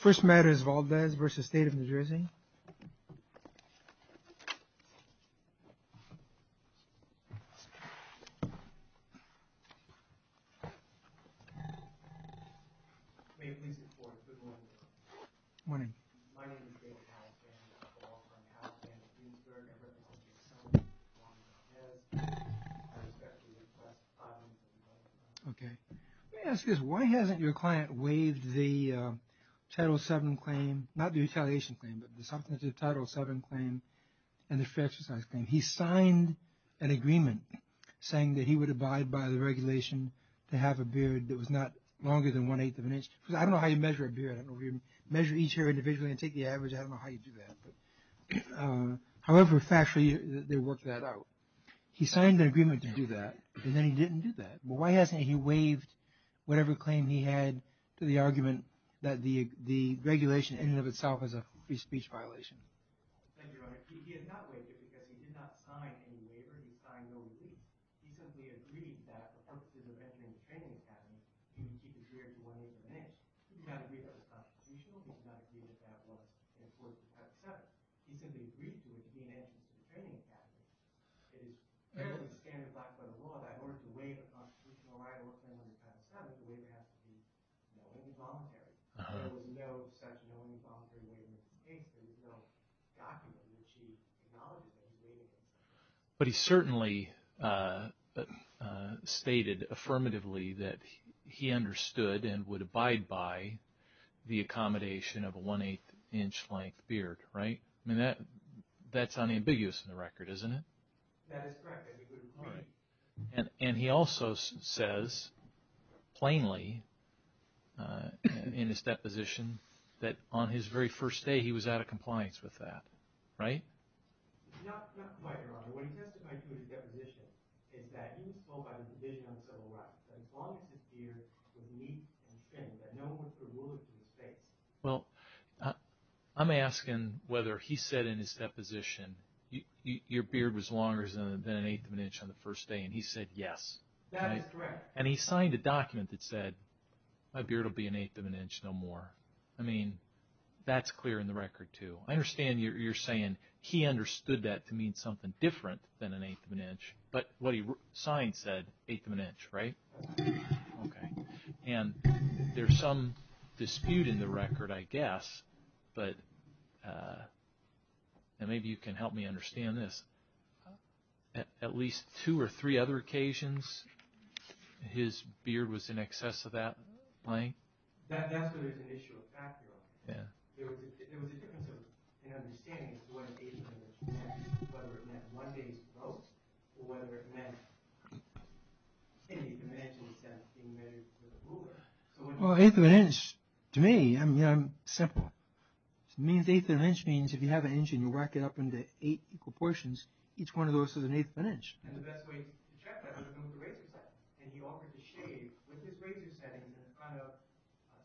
First matters of Valdes v. State of New Jersey Good morning. My name is David Haldeman. I call from Haldeman, Greensburg. I'd like to ask you a question. Okay. Let me ask you this. Why hasn't your client waived the Title VII claim? Not the retaliation claim, but the Title VII claim and the fair exercise claim. He signed an agreement saying that he would abide by the regulation to have a beard that was not longer than one-eighth of an inch. Because I don't know how you measure a beard. I don't know if you measure each hair individually and take the average. I don't know how you do that. However factually, they worked that out. He signed an agreement to do that, and then he didn't do that. But why hasn't he waived whatever claim he had to the argument that the regulation in and of itself is a free speech violation? Thank you, Your Honor. He has not waived it because he did not sign any waiver. He signed no relief. He simply agreed that the purpose of entering the training academy is to keep the beard to one-eighth of an inch. He did not agree that was constitutional. He did not agree that that was an important part of the Title VII. He simply agreed to it to be an entrance to the training academy. It is a really standard black-letter law that in order to waive a constitutional right or a claim on the Title VII, the waiver has to be non-involuntary. There was no such non-involuntary waiver. There was no document that he acknowledged that he waived it. But he certainly stated affirmatively that he understood and would abide by the accommodation of a one-eighth inch length beard, right? I mean, that's unambiguous in the record, isn't it? That is correct. That's a good point. And he also says plainly in his deposition that on his very first day he was out of compliance with that, right? Not quite, Your Honor. What he testified to in his deposition is that he was told by the division on the Civil Rights that as long as his beard was neat and thin, that no one was to rule it to his face. Well, I'm asking whether he said in his deposition, your beard was longer than an eighth of an inch on the first day, and he said yes. That is correct. And he signed a document that said, my beard will be an eighth of an inch no more. I mean, that's clear in the record, too. I understand you're saying he understood that to mean something different than an eighth of an inch, but what he signed said eighth of an inch, right? Okay. And there's some dispute in the record, I guess, but maybe you can help me understand this. At least two or three other occasions his beard was in excess of that length? That's where there's an issue of factorial. There was a difference in understanding what an eighth of an inch meant. Whether it meant one day's growth, or whether it meant an eighth of an inch instead of being married to the ruler. Well, an eighth of an inch, to me, I'm simple. An eighth of an inch means if you have an inch and you rack it up into eight equal portions, each one of those is an eighth of an inch. And the best way to check that was to go to the razor setting. And he offered to shave with his razor setting in front of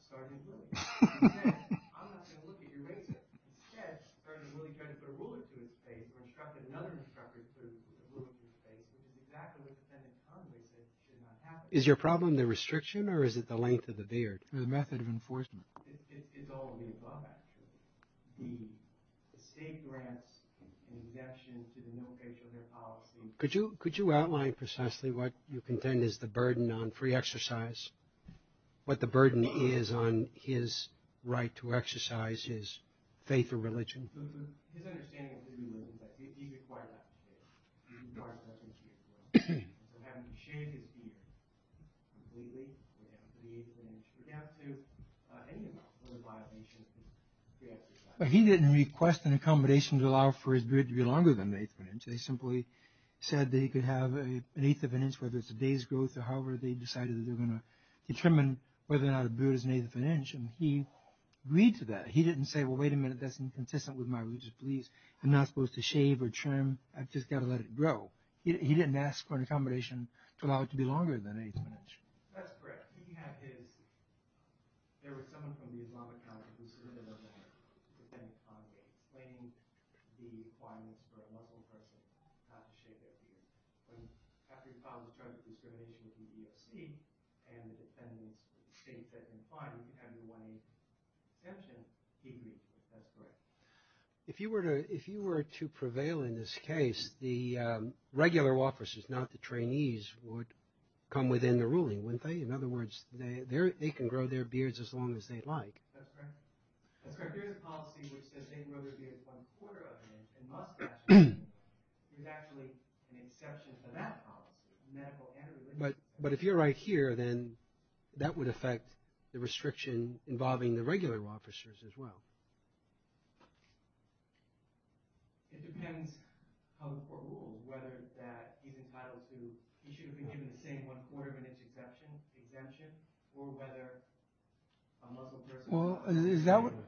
Sergeant Willie. He said, I'm not going to look at your razor. Instead, Sergeant Willie tried to put a ruler to his face, or instructed another instructor to put a ruler to his face. And the back of the defendant's tongue, they said, should not happen. Is your problem the restriction, or is it the length of the beard? Or the method of enforcement. It's all of the above, actually. The state grants an exemption to the no facial hair policy. Could you outline precisely what you contend is the burden on free exercise? What the burden is on his right to exercise his faith or religion? His understanding of Hinduism, that he required that to shave. As far as that's concerned. From having to shave his beard, completely, down to the eighth of an inch, down to any other violation of free exercise. He didn't request an accommodation to allow for his beard to be longer than the eighth of an inch. They simply said that he could have an eighth of an inch, whether it's a day's growth, or however they decided they were going to determine whether or not a beard is an eighth of an inch. And he agreed to that. He didn't say, well, wait a minute. That's inconsistent with my religious beliefs. I'm not supposed to shave or trim. I've just got to let it grow. He didn't ask for an accommodation to allow it to be longer than an eighth of an inch. That's correct. If you were to prevail in this case, the regular officers, not the trainees, would come within the ruling, wouldn't they? In other words, they can grow their beards as long as they'd like. That's correct. That's correct. There's a policy which says they can grow their beards one quarter of an inch, and must actually. There's actually an exception to that policy, medical and religious. But if you're right here, then that would affect the restriction involving the regular officers as well. It depends on whether he's entitled to, he should have been given the same one quarter of an inch exemption, or whether a Muslim person.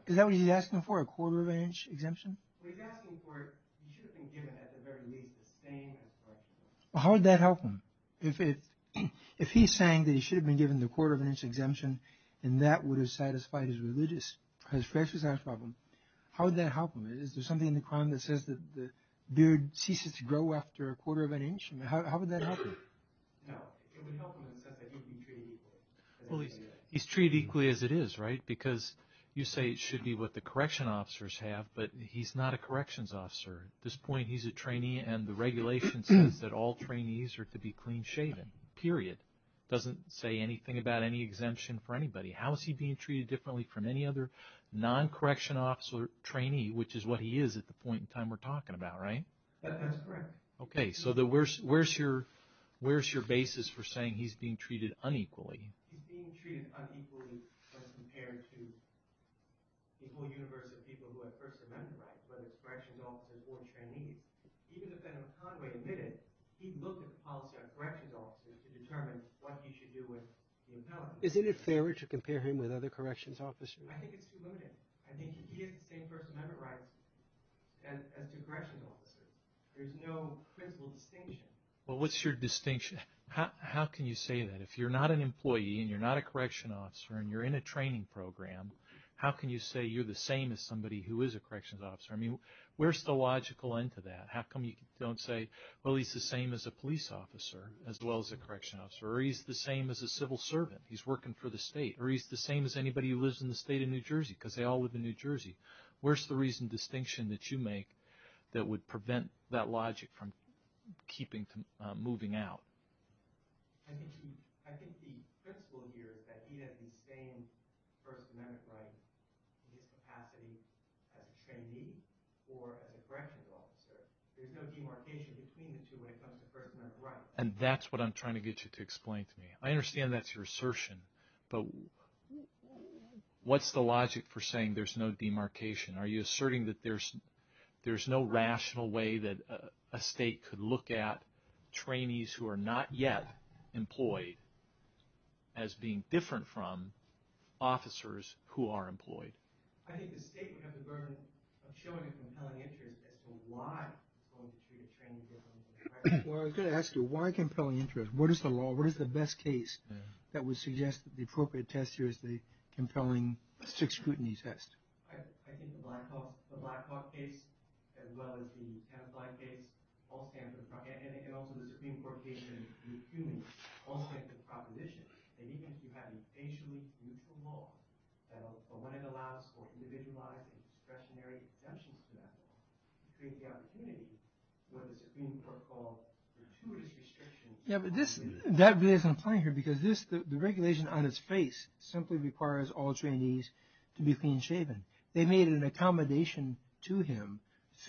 Is that what he's asking for, a quarter of an inch exemption? He's asking for, he should have been given at the very least the same. How would that help him? If he's saying that he should have been given the quarter of an inch exemption, and that would have satisfied his religious problem, how would that help him? Is there something in the crime that says that the beard ceases to grow after a quarter of an inch? How would that help him? No, it would help him in the sense that he'd be treated equally. He's treated equally as it is, right? Because you say it should be what the correction officers have, but he's not a corrections officer. At this point, he's a trainee, and the regulation says that all trainees are to be clean shaven, period. It doesn't say anything about any exemption for anybody. How is he being treated differently from any other non-correction officer trainee, which is what he is at the point in time we're talking about, right? That's correct. Okay, so where's your basis for saying he's being treated unequally? He's being treated unequally as compared to the whole universe of people who have First Amendment rights, whether it's corrections officers or trainees. Even if Adam Conway admitted, he'd look at the policy on corrections officers to determine what he should do with the appellant. Isn't it fairer to compare him with other corrections officers? I think it's too limited. I think he has the same First Amendment rights as two corrections officers. There's no principal distinction. Well, what's your distinction? How can you say that? If you're not an employee and you're not a correction officer and you're in a training program, how can you say you're the same as somebody who is a corrections officer? I mean, where's the logical end to that? How come you don't say, well, he's the same as a police officer as well as a correction officer, or he's the same as a civil servant? He's working for the state. Or he's the same as anybody who lives in the state of New Jersey because they all live in New Jersey. Where's the reason, distinction that you make that would prevent that logic from moving out? I think the principle here is that he has the same First Amendment rights in his capacity as a trainee or as a corrections officer. There's no demarcation between the two when it comes to First Amendment rights. And that's what I'm trying to get you to explain to me. I understand that's your assertion, but what's the logic for saying there's no demarcation? Are you asserting that there's no rational way that a state could look at trainees who are not yet employed as being different from officers who are employed? I think the state would have the burden of showing a compelling interest as to why you're going to treat a trainee differently. Well, I was going to ask you, why compelling interest? What is the law? What is the best case that would suggest that the appropriate test here is the compelling six-scrutiny test? I think the Blackhawk case, as well as the Kenneth Bly case, and also the Supreme Court case, all stand for the proposition that even if you have a facially lethal law, but when it allows for individualized and discretionary exemptions to that law, it creates the opportunity for what the Supreme Court called gratuitous restriction. Yeah, but that really isn't playing here, because the regulation on its face simply requires all trainees to be clean-shaven. They made an accommodation to him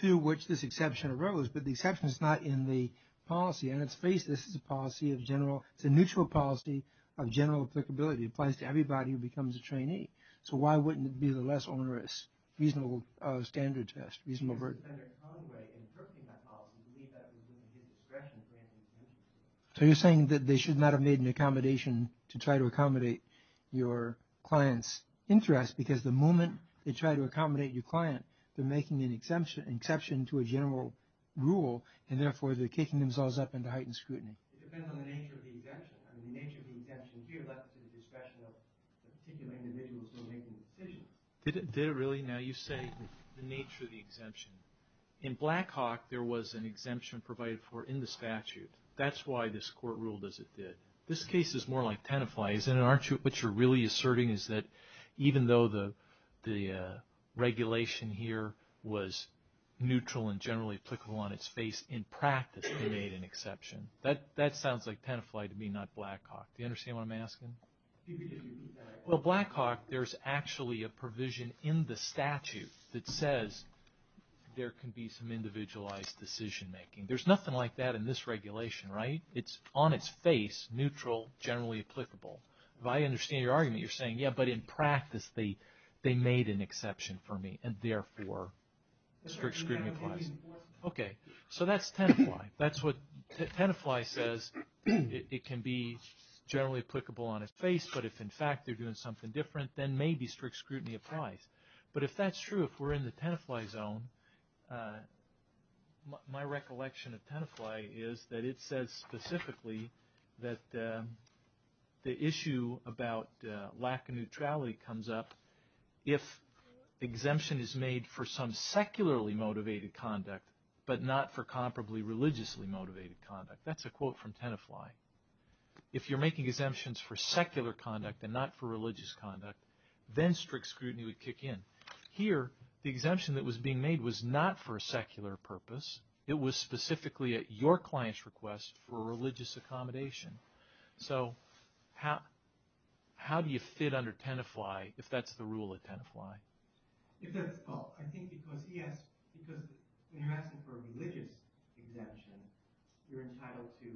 through which this exception arose, but the exception is not in the policy on its face. This is a policy of general – it's a neutral policy of general applicability. It applies to everybody who becomes a trainee. So why wouldn't it be the less onerous, reasonable standard test? So you're saying that they should not have made an accommodation to try to accommodate your client's interest, because the moment they try to accommodate your client, they're making an exception to a general rule, and therefore they're kicking themselves up into heightened scrutiny. It depends on the nature of the exemption. I mean, the nature of the exemption here left to the discretion of the particular individuals who are making the decision. Did it really? Now you say the nature of the exemption. In Blackhawk, there was an exemption provided for in the statute. That's why this court ruled as it did. This case is more like Tenafly. Isn't it? Aren't you – what you're really asserting is that even though the regulation here was neutral and generally applicable on its face, in practice they made an exception. That sounds like Tenafly to me, not Blackhawk. Do you understand what I'm asking? Well, Blackhawk, there's actually a provision in the statute that says there can be some individualized decision making. There's nothing like that in this regulation, right? It's on its face, neutral, generally applicable. If I understand your argument, you're saying, yeah, but in practice they made an exception for me, and therefore strict scrutiny applies. Okay. So that's Tenafly. That's what Tenafly says. It can be generally applicable on its face, but if, in fact, they're doing something different, then maybe strict scrutiny applies. But if that's true, if we're in the Tenafly zone, my recollection of Tenafly is that it says specifically that the issue about lack of neutrality comes up if exemption is made for some secularly motivated conduct, but not for comparably religiously motivated conduct. That's a quote from Tenafly. If you're making exemptions for secular conduct and not for religious conduct, then strict scrutiny would kick in. Here, the exemption that was being made was not for a secular purpose. It was specifically at your client's request for religious accommodation. So how do you fit under Tenafly if that's the rule at Tenafly? I think because when you're asking for a religious exemption, you're entitled to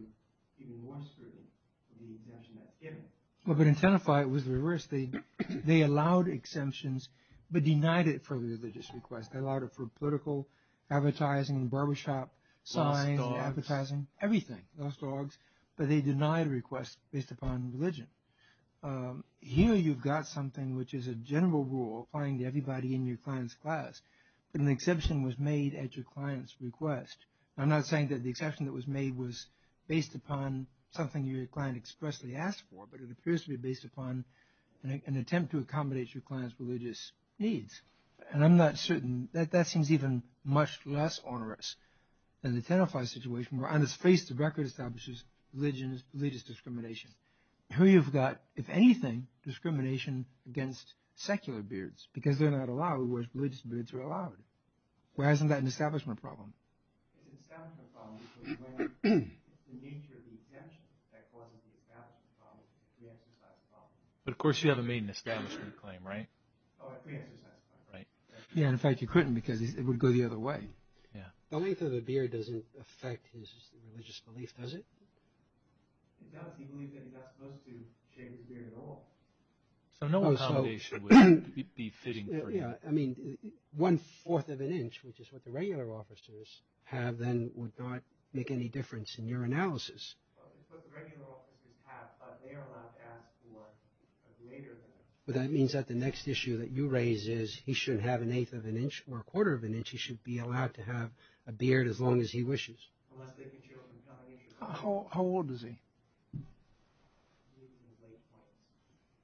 even more scrutiny for the exemption that's given. But in Tenafly it was reversed. They allowed exemptions but denied it for religious requests. They allowed it for political advertising, barbershop signs, advertising, everything. Lost dogs. But they denied requests based upon religion. Here you've got something which is a general rule applying to everybody in your client's class. But an exception was made at your client's request. I'm not saying that the exception that was made was based upon something your client expressly asked for, but it appears to be based upon an attempt to accommodate your client's religious needs. And I'm not certain. That seems even much less onerous than the Tenafly situation where on its face the record establishes religious discrimination. Here you've got, if anything, discrimination against secular beards because they're not allowed, whereas religious beards are allowed. Why isn't that an establishment problem? It's an establishment problem because the nature of the exemption that causes the establishment problem is a pre-exercise problem. But of course you haven't made an establishment claim, right? Oh, a pre-exercise claim. Right. Yeah, and in fact you couldn't because it would go the other way. Yeah. The length of the beard doesn't affect his religious belief, does it? It does. He believes that he's not supposed to shave his beard at all. So no accommodation would be fitting for him. Yeah. I mean, one-fourth of an inch, which is what the regular officers have, then would not make any difference in your analysis. Well, it's what the regular officers have, but they are allowed to ask for a greater than. Well, that means that the next issue that you raise is he shouldn't have an eighth of an inch or a quarter of an inch. He should be allowed to have a beard as long as he wishes. How old is he?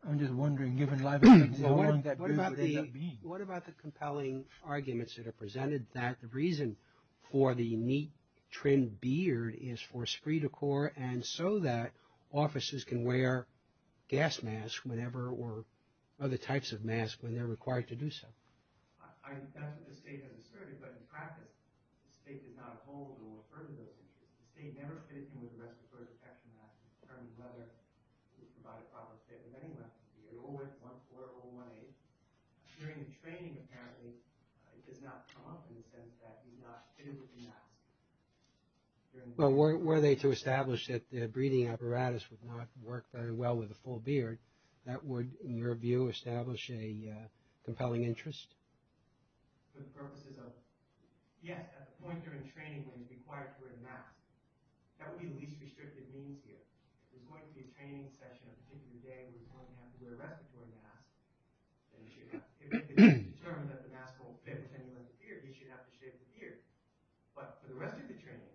I'm just wondering. What about the compelling arguments that are presented that the reason for the neat trimmed beard is for esprit de corps and so that officers can wear gas masks whenever or other types of masks when they're required to do so? I don't think the state has asserted, but in practice, the state did not hold or refer to those issues. The state never fitted him with a respiratory protection mask to determine whether he provided proper care to anyone. He had always one-fourth or one-eighth. During the training, apparently, it does not come up in the sense that he's not fitted with the mask. Well, were they to establish that the breathing apparatus would not work very well with a full beard, that would, in your view, establish a compelling interest? For the purposes of, yes, at the point during training when he's required to wear the mask. That would be the least restricted means here. If there's going to be a training session on a particular day where he's going to have to wear a respiratory mask, then he should have. If it's determined that the mask won't fit with anyone with a beard, he should have to shave his beard. But for the rest of the training,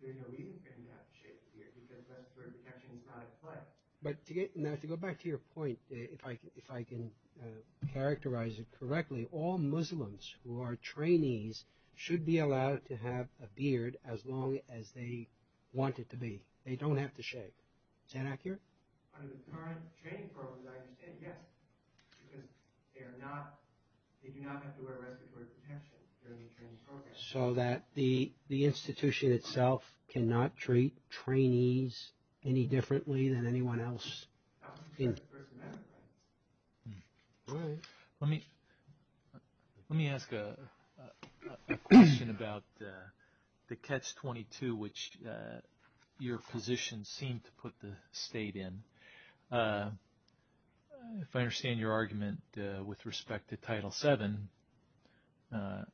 there's no reason for him to have to shave his beard, because respiratory protection is not in play. Now, to go back to your point, if I can characterize it correctly, all Muslims who are trainees should be allowed to have a beard as long as they want it to be. They don't have to shave. Is that accurate? Under the current training programs, I understand, yes, because they do not have to wear respiratory protection during the training program. So that the institution itself cannot treat trainees any differently than anyone else? That's what the First Amendment says. Let me ask a question about the Catch-22, which your position seemed to put the state in. If I understand your argument with respect to Title VII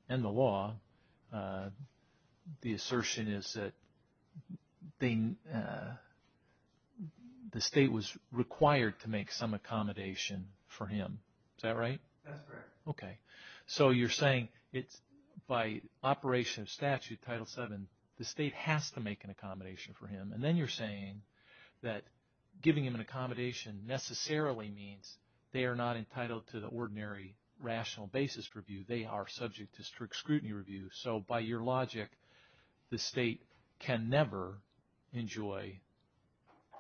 and the law, the assertion is that the state was required to make some accommodation for him. Is that right? That's correct. Okay. So you're saying it's by operation of statute, Title VII, the state has to make an accommodation for him. And then you're saying that giving him an accommodation necessarily means they are not entitled to the ordinary rational basis review. They are subject to strict scrutiny review. So by your logic, the state can never enjoy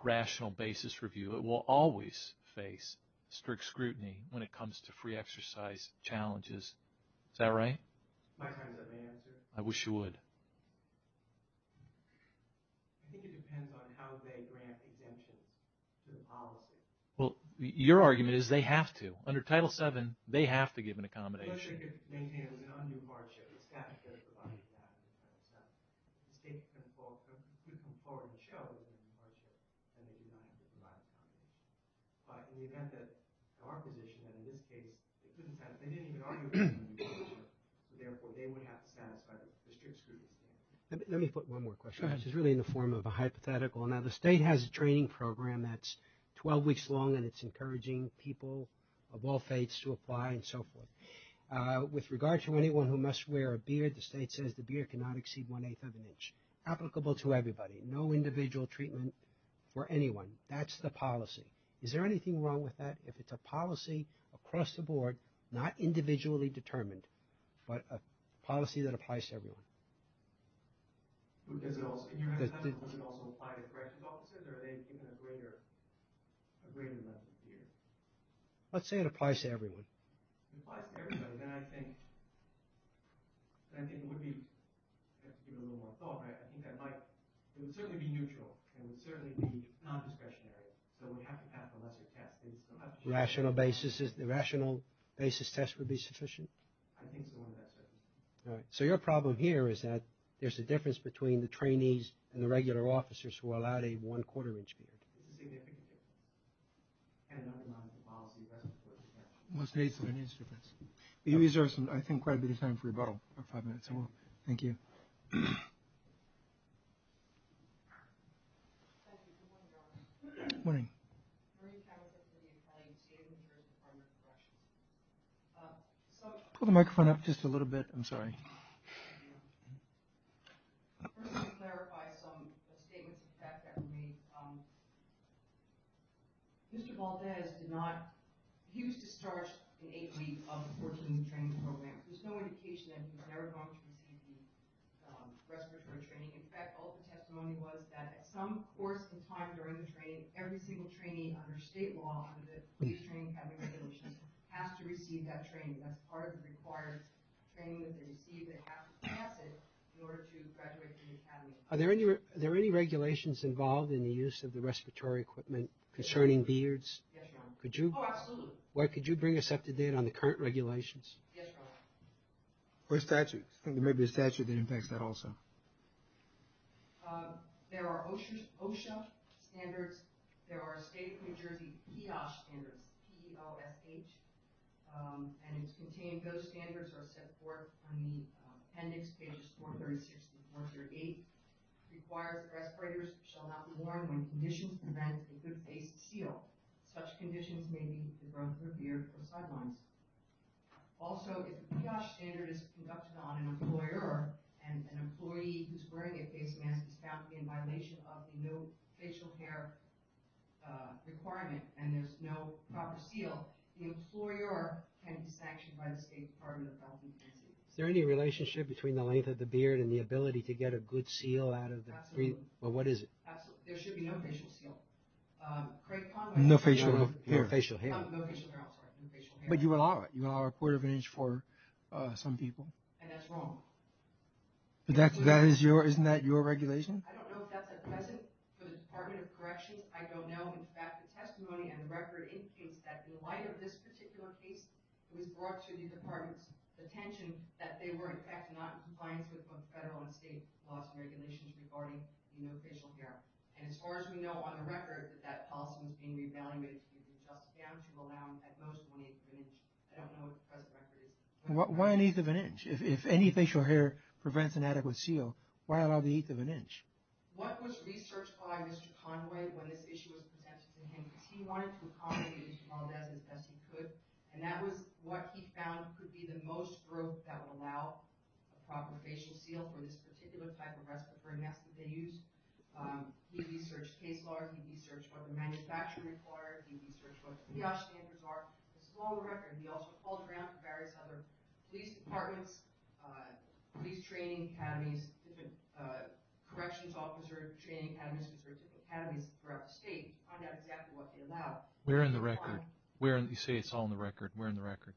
rational basis review. It will always face strict scrutiny when it comes to free exercise challenges. Is that right? My time's up, ma'am. I wish you would. I think it depends on how they grant exemptions to the policy. Well, your argument is they have to. Under Title VII, they have to give an accommodation. The state maintains an undue hardship. The statute does provide that. If the state could come forward and show an undue hardship, then they do not have to provide an accommodation. But in the event that our position, that in this case, they didn't even argue for an undue hardship, therefore they would have to satisfy the strict scrutiny standard. Let me put one more question. Go ahead. This is really in the form of a hypothetical. Now, the state has a training program that's 12 weeks long, and it's encouraging people of all faiths to apply and so forth. With regard to anyone who must wear a beard, the state says the beard cannot exceed one-eighth of an inch. Applicable to everybody. No individual treatment for anyone. That's the policy. Is there anything wrong with that? If it's a policy across the board, not individually determined, but a policy that applies to everyone. Does it also apply to corrections officers, or are they given a greater level of fear? Let's say it applies to everyone. It applies to everybody. Then I think it would be, I have to give it a little more thought, I think that might, it would certainly be neutral, and it would certainly be non-discretionary, so it would have to pass a lesser test. The rational basis test would be sufficient? I think so in that sense. All right. So your problem here is that there's a difference between the trainees and the regular officers who are allowed a one-quarter inch beard. It's a significant difference. And it undermines the policy across the board. Well, it's a difference. You reserve, I think, quite a bit of time for rebuttal. About five minutes. Thank you. Thank you. Good morning, gentlemen. Good morning. Marie Chow is going to be applying to the Department of Corrections. Pull the microphone up just a little bit. I'm sorry. First let me clarify some statements of fact that were made. Mr. Valdez did not, he was discharged in eight weeks of the training program. There's no indication that he was ever going to receive the respiratory training. In fact, all the testimony was that at some course in time during the training, every single trainee under state law under the police training academy regulations has to receive that training. That's part of the requirements. The training that they receive, they have to pass it in order to graduate from the academy. Are there any regulations involved in the use of the respiratory equipment concerning beards? Yes, Your Honor. Oh, absolutely. Could you bring us up to date on the current regulations? Yes, Your Honor. Or statutes. I think there may be a statute that impacts that also. There are OSHA standards. There are state of New Jersey PIOSH standards. P-O-S-H. And it's contained, those standards are set forth on the appendix, pages 436 and 408. Requires respirators shall not be worn when conditions prevent a good-faced seal. Such conditions may be the growth of the beard or sidelines. Also, if the PIOSH standard is conducted on an employer, an employee who's wearing a face mask is found to be in violation of the no facial hair requirement and there's no proper seal, the employer can be sanctioned by the State Department of Health and Human Services. Is there any relationship between the length of the beard and the ability to get a good seal out of the beard? Absolutely. Well, what is it? There should be no facial seal. No facial hair. No facial hair. But you allow it. You allow a quarter of an inch for some people. And that's wrong. Isn't that your regulation? I don't know if that's at present for the Department of Corrections. I don't know. In fact, the testimony and the record indicates that in light of this particular case, it was brought to the department's attention that they were in fact not in compliance with both federal and state laws and regulations regarding no facial hair. And as far as we know on the record, that policy was being re-evaluated to allow at most one-eighth of an inch. I don't know what the present record is. Why an eighth of an inch? If any facial hair prevents an adequate seal, why allow the eighth of an inch? What was researched by Mr. Conway when this issue was presented to him was he wanted to accommodate as well as he could and that was what he found could be the most growth that would allow a proper facial seal for this particular type of respirator mask that they used. He researched case law. He researched what the manufacturing required. He researched what the kiosk standards are. This is all on the record. He also called around to various other police departments, police training academies, different corrections officers, training academies, different academies throughout the state to find out exactly what they allowed. We're in the record. You say it's all in the record. We're in the record.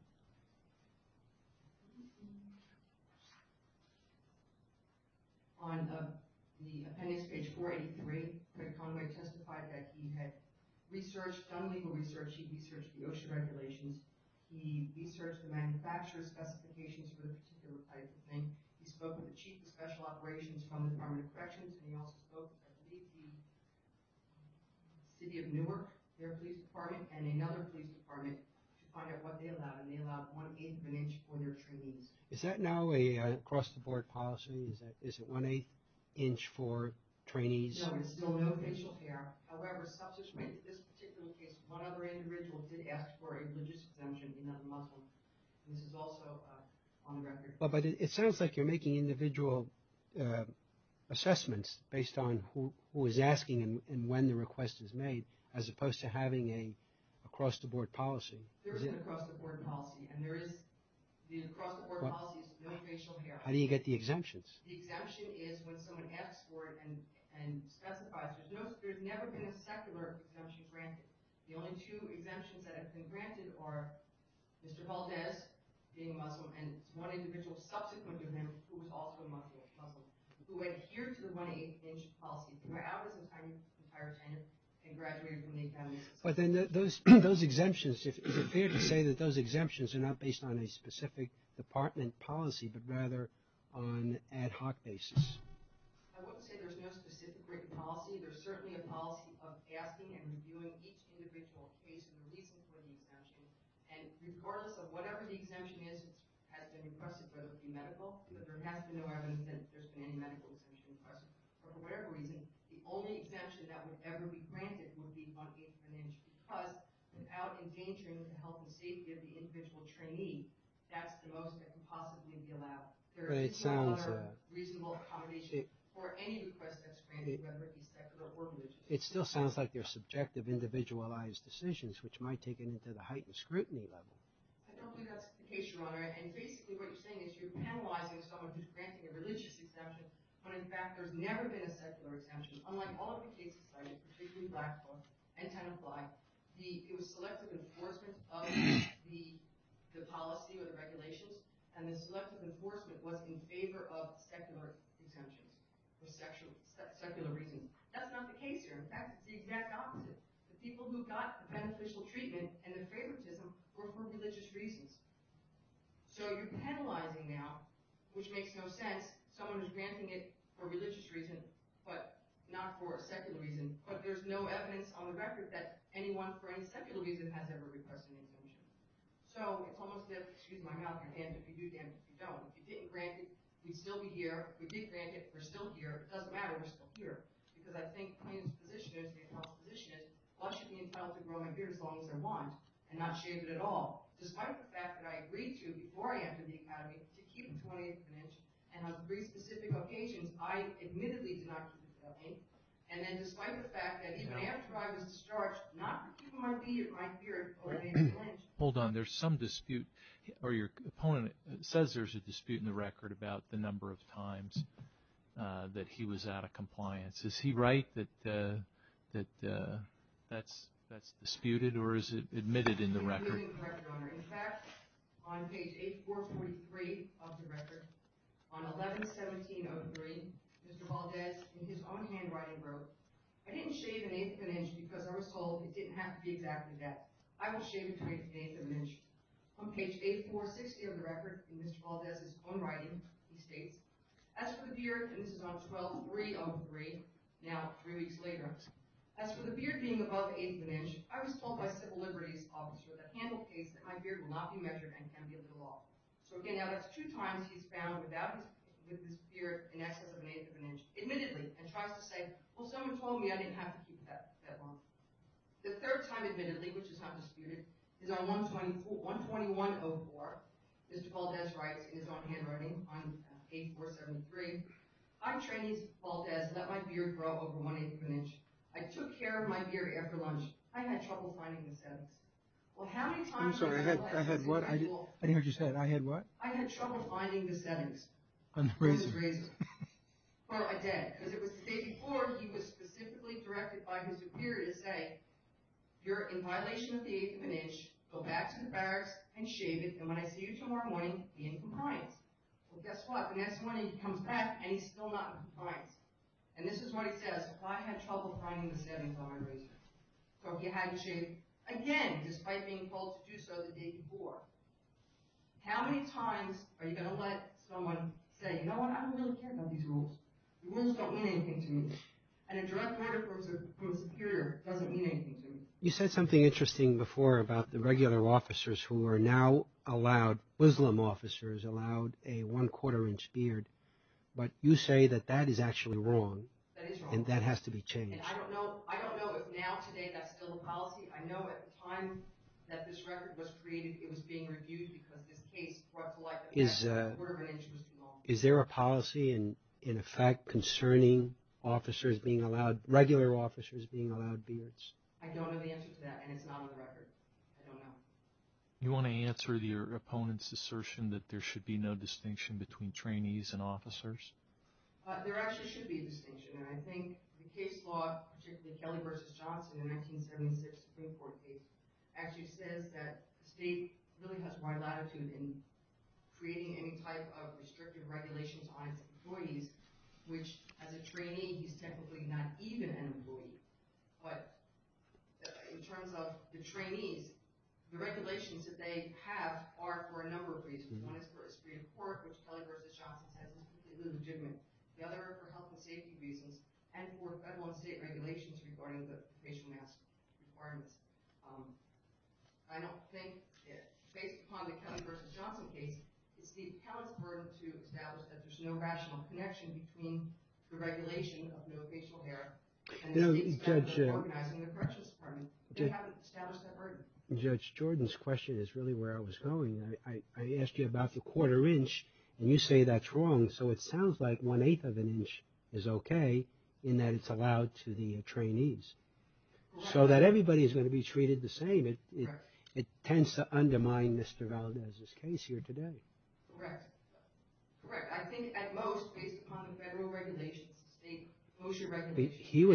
On the appendix page 483, Mr. Conway testified that he had done legal research. He researched the OSHA regulations. He researched the manufacturer's specifications for the particular type of thing. He spoke with the chief of special operations from the Department of Corrections, and he also spoke with the city of Newark, their police department, and another police department to find out what they allowed, and they allowed one-eighth of an inch for their trainees. Is that now an across-the-board policy? Is it one-eighth inch for trainees? No, there's still no facial hair. However, this particular case, one other individual did ask for a logistics exemption in that muscle. This is also on the record. But it sounds like you're making individual assessments based on who is asking and when the request is made as opposed to having an across-the-board policy. There is an across-the-board policy, and there is the across-the-board policy is no facial hair. How do you get the exemptions? The exemption is when someone asks for it and specifies. There's never been a secular exemption granted. The only two exemptions that have been granted are Mr. Valdez being Muslim and one individual subsequent to him who was also a Muslim who adhered to the one-eighth inch policy. Mr. Valdez retired and graduated from the Academy of Social Sciences. But then those exemptions, is it fair to say that those exemptions are not based on a specific department policy but rather on an ad hoc basis? I wouldn't say there's no specific written policy. There's certainly a policy of asking and reviewing each individual case and releasing for the exemption. And regardless of whatever the exemption is, it has been requested whether it be medical. There has been no evidence that there's been any medical exemption requested. But for whatever reason, the only exemption that would ever be granted would be one-eighth of an inch. Because without endangering the health and safety of the individual trainee, that's the most that can possibly be allowed. There is no other reasonable accommodation for any request that's granted, whether it be secular or religious. It still sounds like they're subjective, individualized decisions, which might take it into the heightened scrutiny level. I don't think that's the case, Your Honor. And basically what you're saying is you're penalizing someone who's granting a religious exemption when, in fact, there's never been a secular exemption. Unlike all of the cases cited, particularly Blackfool and Ten-and-Fly, it was selective enforcement of the policy or the regulations, and the selective enforcement was in favor of secular exemptions for secular reasons. That's not the case here. In fact, it's the exact opposite. The people who got the beneficial treatment and the favoritism were for religious reasons. So you're penalizing now, which makes no sense, someone who's granting it for religious reasons, but not for a secular reason. But there's no evidence on the record that anyone for any secular reason has ever requested an exemption. So it's almost as if—excuse my mouth, Your Honor, and if you do, then you don't. If you didn't grant it, we'd still be here. If we did grant it, we're still here. It doesn't matter. We're still here. Because I think plaintiff's position is, plaintiff's health's position is, I should be entitled to grow my beard as long as I want and not shave it at all, despite the fact that I agreed to, before I entered the academy, to keep a 20-inch and on three specific occasions, I admittedly did not keep a 20, and then despite the fact that even after I was discharged, not to keep my beard, I feared a 20-inch. Hold on. There's some dispute, or your opponent says there's a dispute in the record about the number of times that he was out of compliance. Is he right that that's disputed, or is it admitted in the record? It's admitted in the record, Your Honor. In fact, on page 8443 of the record, on 11-17-03, Mr. Valdez, in his own handwriting, wrote, I didn't shave an eighth of an inch because I was told it didn't have to be exactly that. I will shave it to an eighth of an inch. On page 8460 of the record, in Mr. Valdez's own writing, he states, As for the beard, and this is on 12-3-03, now three weeks later, As for the beard being above an eighth of an inch, I was told by civil liberties officer that handled case that my beard will not be measured and can be a little off. So again, now that's two times he's found without his beard in excess of an eighth of an inch, admittedly, and tries to say, well, someone told me I didn't have to keep it that long. The third time admittedly, which is not disputed, is on 121-04. Mr. Valdez writes in his own handwriting on 84-73, I, Trenny Valdez, let my beard grow over one eighth of an inch. I took care of my beard after lunch. I had trouble finding the settings. Well, how many times... I'm sorry, I had what? I didn't hear what you said. I had what? I had trouble finding the settings. On the razor. On the razor. Well, I did. As it was stated before, he was specifically directed by his superior to say, You're in violation of the eighth of an inch. Go back to the barracks and shave it. And when I see you tomorrow morning, be in compliance. Well, guess what? The next morning he comes back and he's still not in compliance. And this is what he says. Well, I had trouble finding the settings on my razor. So if you had to shave again, despite being told to do so the day before, how many times are you going to let someone say, You know what? I don't really care about these rules. The rules don't mean anything to me. And a direct order from a superior doesn't mean anything to me. You said something interesting before about the regular officers who are now allowed, Muslim officers allowed a one-quarter inch beard. But you say that that is actually wrong. That is wrong. And that has to be changed. And I don't know if now today that's still the policy. I know at the time that this record was created, it was being reviewed because this case brought to light that a quarter of an inch was too long. Is there a policy in effect concerning officers being allowed, regular officers being allowed beards? I don't know the answer to that, and it's not on the record. I don't know. You want to answer your opponent's assertion that there should be no distinction between trainees and officers? There actually should be a distinction, and I think the case law, particularly Kelly v. Johnson in the 1976 Supreme Court case, actually says that the state really has wide latitude in creating any type of restrictive regulations on its employees, which, as a trainee, he's technically not even an employee. But in terms of the trainees, the regulations that they have are for a number of reasons. One is for a Supreme Court, which Kelly v. Johnson says is completely legitimate. The other are for health and safety reasons and for federal and state regulations regarding the facial mask requirements. I don't think, based upon the Kelly v. Johnson case, it's the appellant's burden to establish that there's no rational connection between the regulation of no facial hair and the state's practice of organizing the corrections department. They haven't established that burden. Judge, Jordan's question is really where I was going. I asked you about the quarter inch, and you say that's wrong, so it sounds like one-eighth of an inch is okay in that it's allowed to the trainees. So that everybody is going to be treated the same, it tends to undermine Mr. Valdez's case here today. Correct. Correct. I think at most, based upon the federal regulations, the state closure regulations, the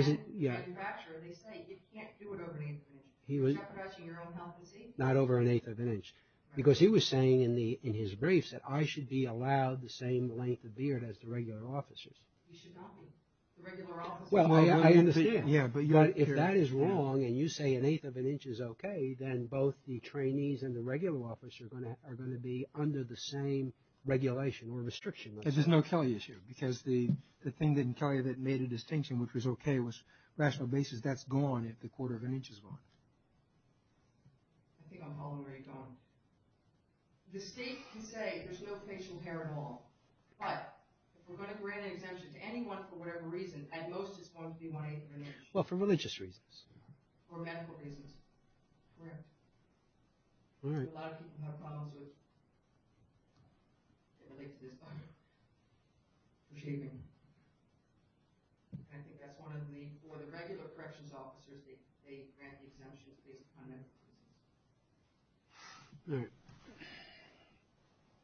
manufacturer, they say you can't do it over an eighth of an inch. You're jeopardizing your own health and safety. Not over an eighth of an inch. Because he was saying in his briefs that I should be allowed the same length of beard as the regular officers. You should not be. The regular officers... Well, I understand. Yeah, but you're... But if that is wrong, and you say an eighth of an inch is okay, then both the trainees and the regular officers are going to be under the same regulation or restriction. Because there's no Kelly issue. Because the thing in Kelly that made a distinction which was okay was, on a rational basis, that's gone if the quarter of an inch is gone. I think I'm following where you're going. The state can say there's no facial hair at all, but if we're going to grant an exemption to anyone for whatever reason, at most it's going to be one-eighth of an inch. Well, for religious reasons. Or medical reasons. Correct. A lot of people have problems with... that relate to this topic. For shaving. I think that's one of the... For the regular corrections officers, they grant the exemption based upon medical reasons. Right.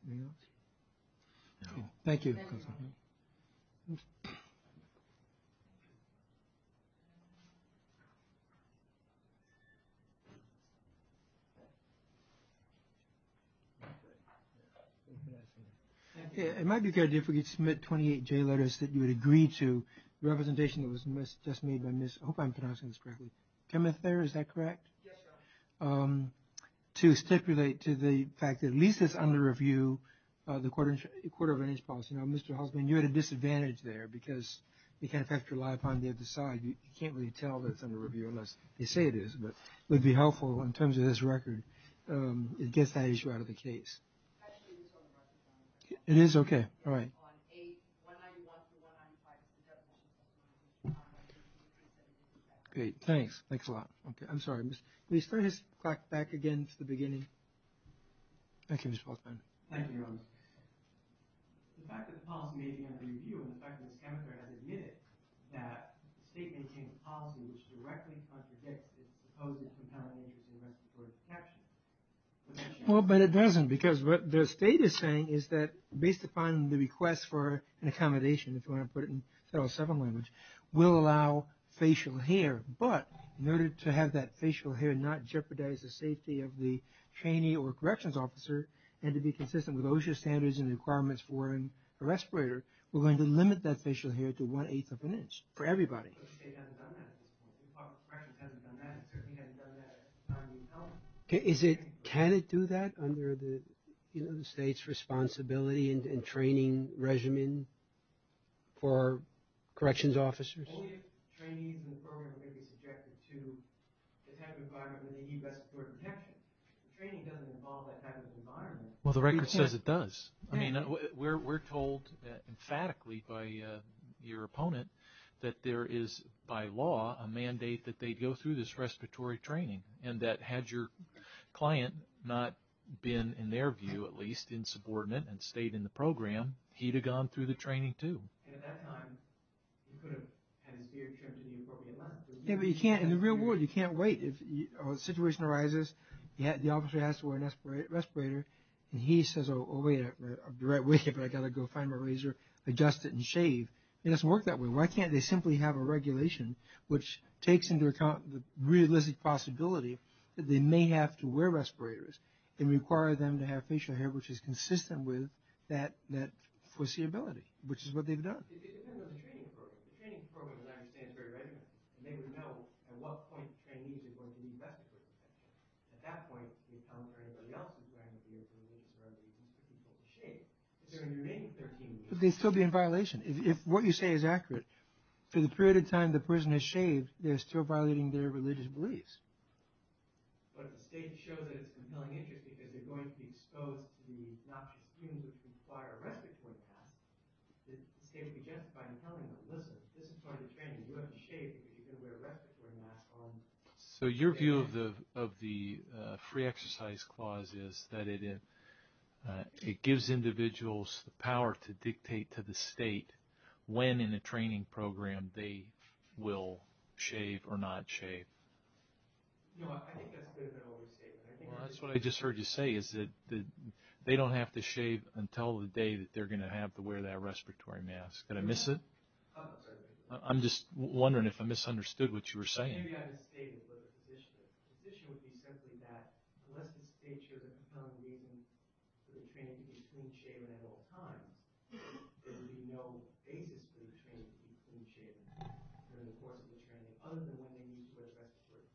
Anything else? No. Thank you. Thank you. Thank you. It might be a good idea if we could submit 28 J letters that you would agree to the representation that was just made by Miss... I hope I'm pronouncing this correctly. Chemith there, is that correct? Yes, sir. To stipulate to the fact that at least it's under review, the quarter of an inch policy. Now, Mr. Halsman, you had a disadvantage there because you can't effectively rely upon the other side. You can't really tell that it's under review unless they say it is. But it would be helpful in terms of this record. It gets that issue out of the case. It is? Okay. All right. Great. Thanks. Thanks a lot. I'm sorry. Can we start this clock back again to the beginning? Thank you, Mr. Halsman. Thank you. The fact that the policy may be under review, and the fact that Ms. Chemith has admitted that the state maintaining the policy which directly contradicts its proposed compelling interest in respiratory protection... Well, but it doesn't because what the state is saying is that based upon the request for an accommodation, if you want to put it in federal separate language, will allow facial hair. But in order to have that facial hair not jeopardize the safety of the trainee or corrections officer, and to be consistent with OSHA standards and the requirements for a respirator, we're going to limit that facial hair to one-eighth of an inch for everybody. Can it do that under the state's responsibility and training regimen for corrections officers? Well, the record says it does. I mean, we're told emphatically by your opponent that there is by law a mandate that they go through this respiratory training, and that had your client not been, in their view at least, insubordinate and stayed in the program, he'd have gone through the training too. Yeah, but in the real world, you can't wait. If a situation arises, the officer has to wear a respirator, and he says, oh, wait, I'll be right with you, but I've got to go find my razor, adjust it, and shave. It doesn't work that way. Why can't they simply have a regulation which takes into account the realistic possibility that they may have to wear respirators and require them to have facial hair which is consistent with that foreseeability, which is what they've done. But they'd still be in violation. If what you say is accurate, for the period of time the person has shaved, they're still violating their religious beliefs. So your view of the free exercise clause is that it gives individuals the power to dictate to the state when in a training program they will shave or not shave. Well, that's what I just heard you say, is that they don't have to shave until the day that they're going to have to wear that respiratory mask. Did I miss it? I'm just wondering if I misunderstood what you were saying. There's a fundamental reason for the training to be between shaving at all times. There would be no basis for the training to be between shaving during the course of the training other than when they need to wear the respiratory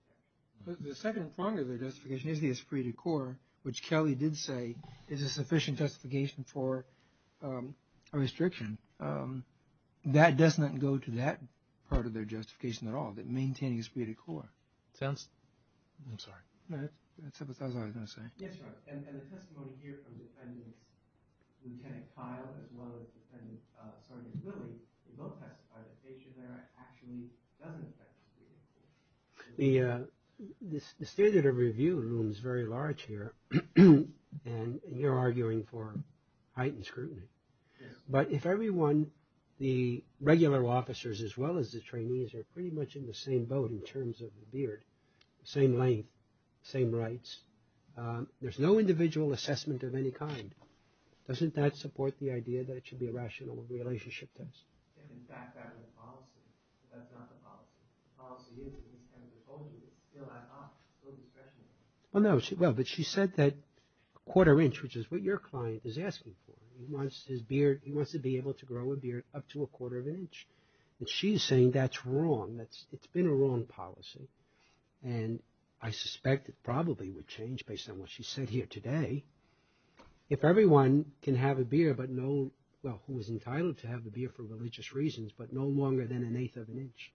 mask. The second prong of their justification is the esprit de corps, which Kelly did say is a sufficient justification for a restriction. That does not go to that part of their justification at all, that maintaining esprit de corps. I'm sorry. That's all I was going to say. Yes, Your Honor. And the testimony here from Defendant Lieutenant Kyle as well as Defendant Sergeant Willie, they both testified that facial hair actually doesn't affect esprit de corps. The standard of review room is very large here, and you're arguing for heightened scrutiny. Yes. But if everyone, the regular officers as well as the trainees, are pretty much in the same boat in terms of the beard, the same length, the same rights, there's no individual assessment of any kind. Doesn't that support the idea that it should be a rational relationship test? In fact, that's the policy. That's not the policy. The policy is that these kinds of approaches are still ad hoc, still discretionary. Well, no. But she said that a quarter inch, which is what your client is asking for, he wants his beard, he wants to be able to grow a beard up to a quarter of an inch. And she's saying that's wrong. It's been a wrong policy. And I suspect it probably would change based on what she said here today. If everyone can have a beard but no, well, who is entitled to have a beard for religious reasons, but no longer than an eighth of an inch,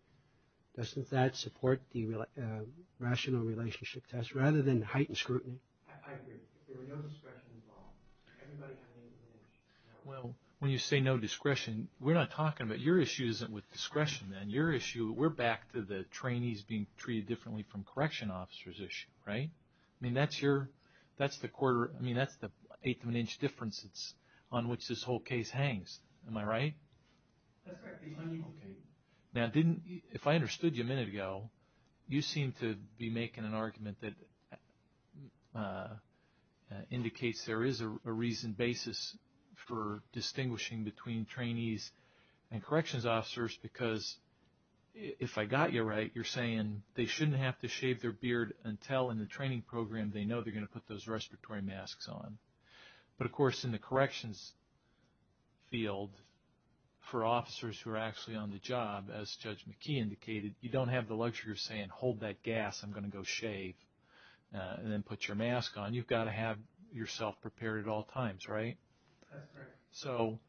doesn't that support the rational relationship test rather than heightened scrutiny? I agree. If there were no discretion involved, everybody had an eighth of an inch. Well, when you say no discretion, we're not talking about your issues with discretion, and your issue, we're back to the trainees being treated differently from correction officers issue, right? I mean, that's the eighth of an inch difference on which this whole case hangs. Am I right? That's correct. Okay. Now, if I understood you a minute ago, you seem to be making an argument that indicates there is a reason, basis for distinguishing between trainees and corrections officers because if I got you right, you're saying they shouldn't have to shave their beard until in the training program they know they're going to put those respiratory masks on. But, of course, in the corrections field, for officers who are actually on the job, as Judge McKee indicated, you don't have the luxury of saying, hold that gas, I'm going to go shave, and then put your mask on. You've got to have yourself prepared at all times, right? That's correct. So,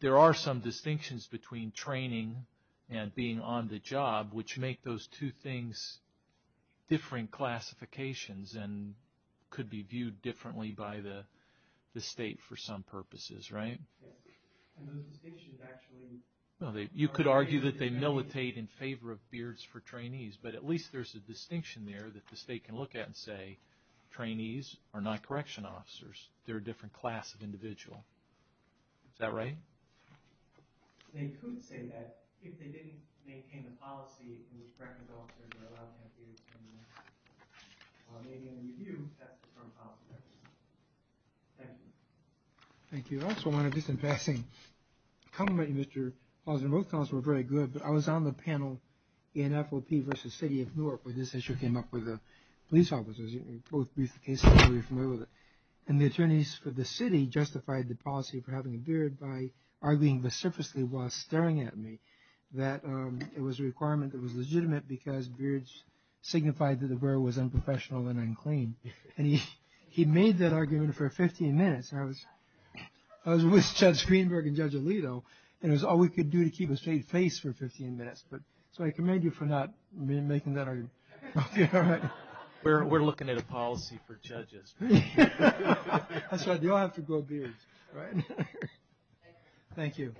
there are some distinctions between training and being on the job, which make those two things different classifications and could be viewed differently by the state for some purposes, right? Yes. And those distinctions actually... You could argue that they militate in favor of beards for trainees, but at least there's a distinction there that the state can look at and say, trainees are not correction officers, they're a different class of individual. Is that right? They could say that, if they didn't maintain the policy in which corrections officers are allowed to have beards, while they're in review, that's a different policy. Thank you. Thank you. I also want to, just in passing, compliment you, Mr. Hawthorne. Both comments were very good, but I was on the panel, NFOP versus City of Newark, where this issue came up with the police officers. You both briefed the case, I'm sure you're familiar with it. And the attorneys for the city justified the policy for having a beard by arguing vociferously while staring at me that it was a requirement that was legitimate because beards signified that the beard was unprofessional and unclean. And he made that argument for 15 minutes. I was with Judge Greenberg and Judge Alito, and it was all we could do to keep a straight face for 15 minutes. So I commend you for not making that argument. We're looking at a policy for judges. That's right, you all have to grow beards. Thank you.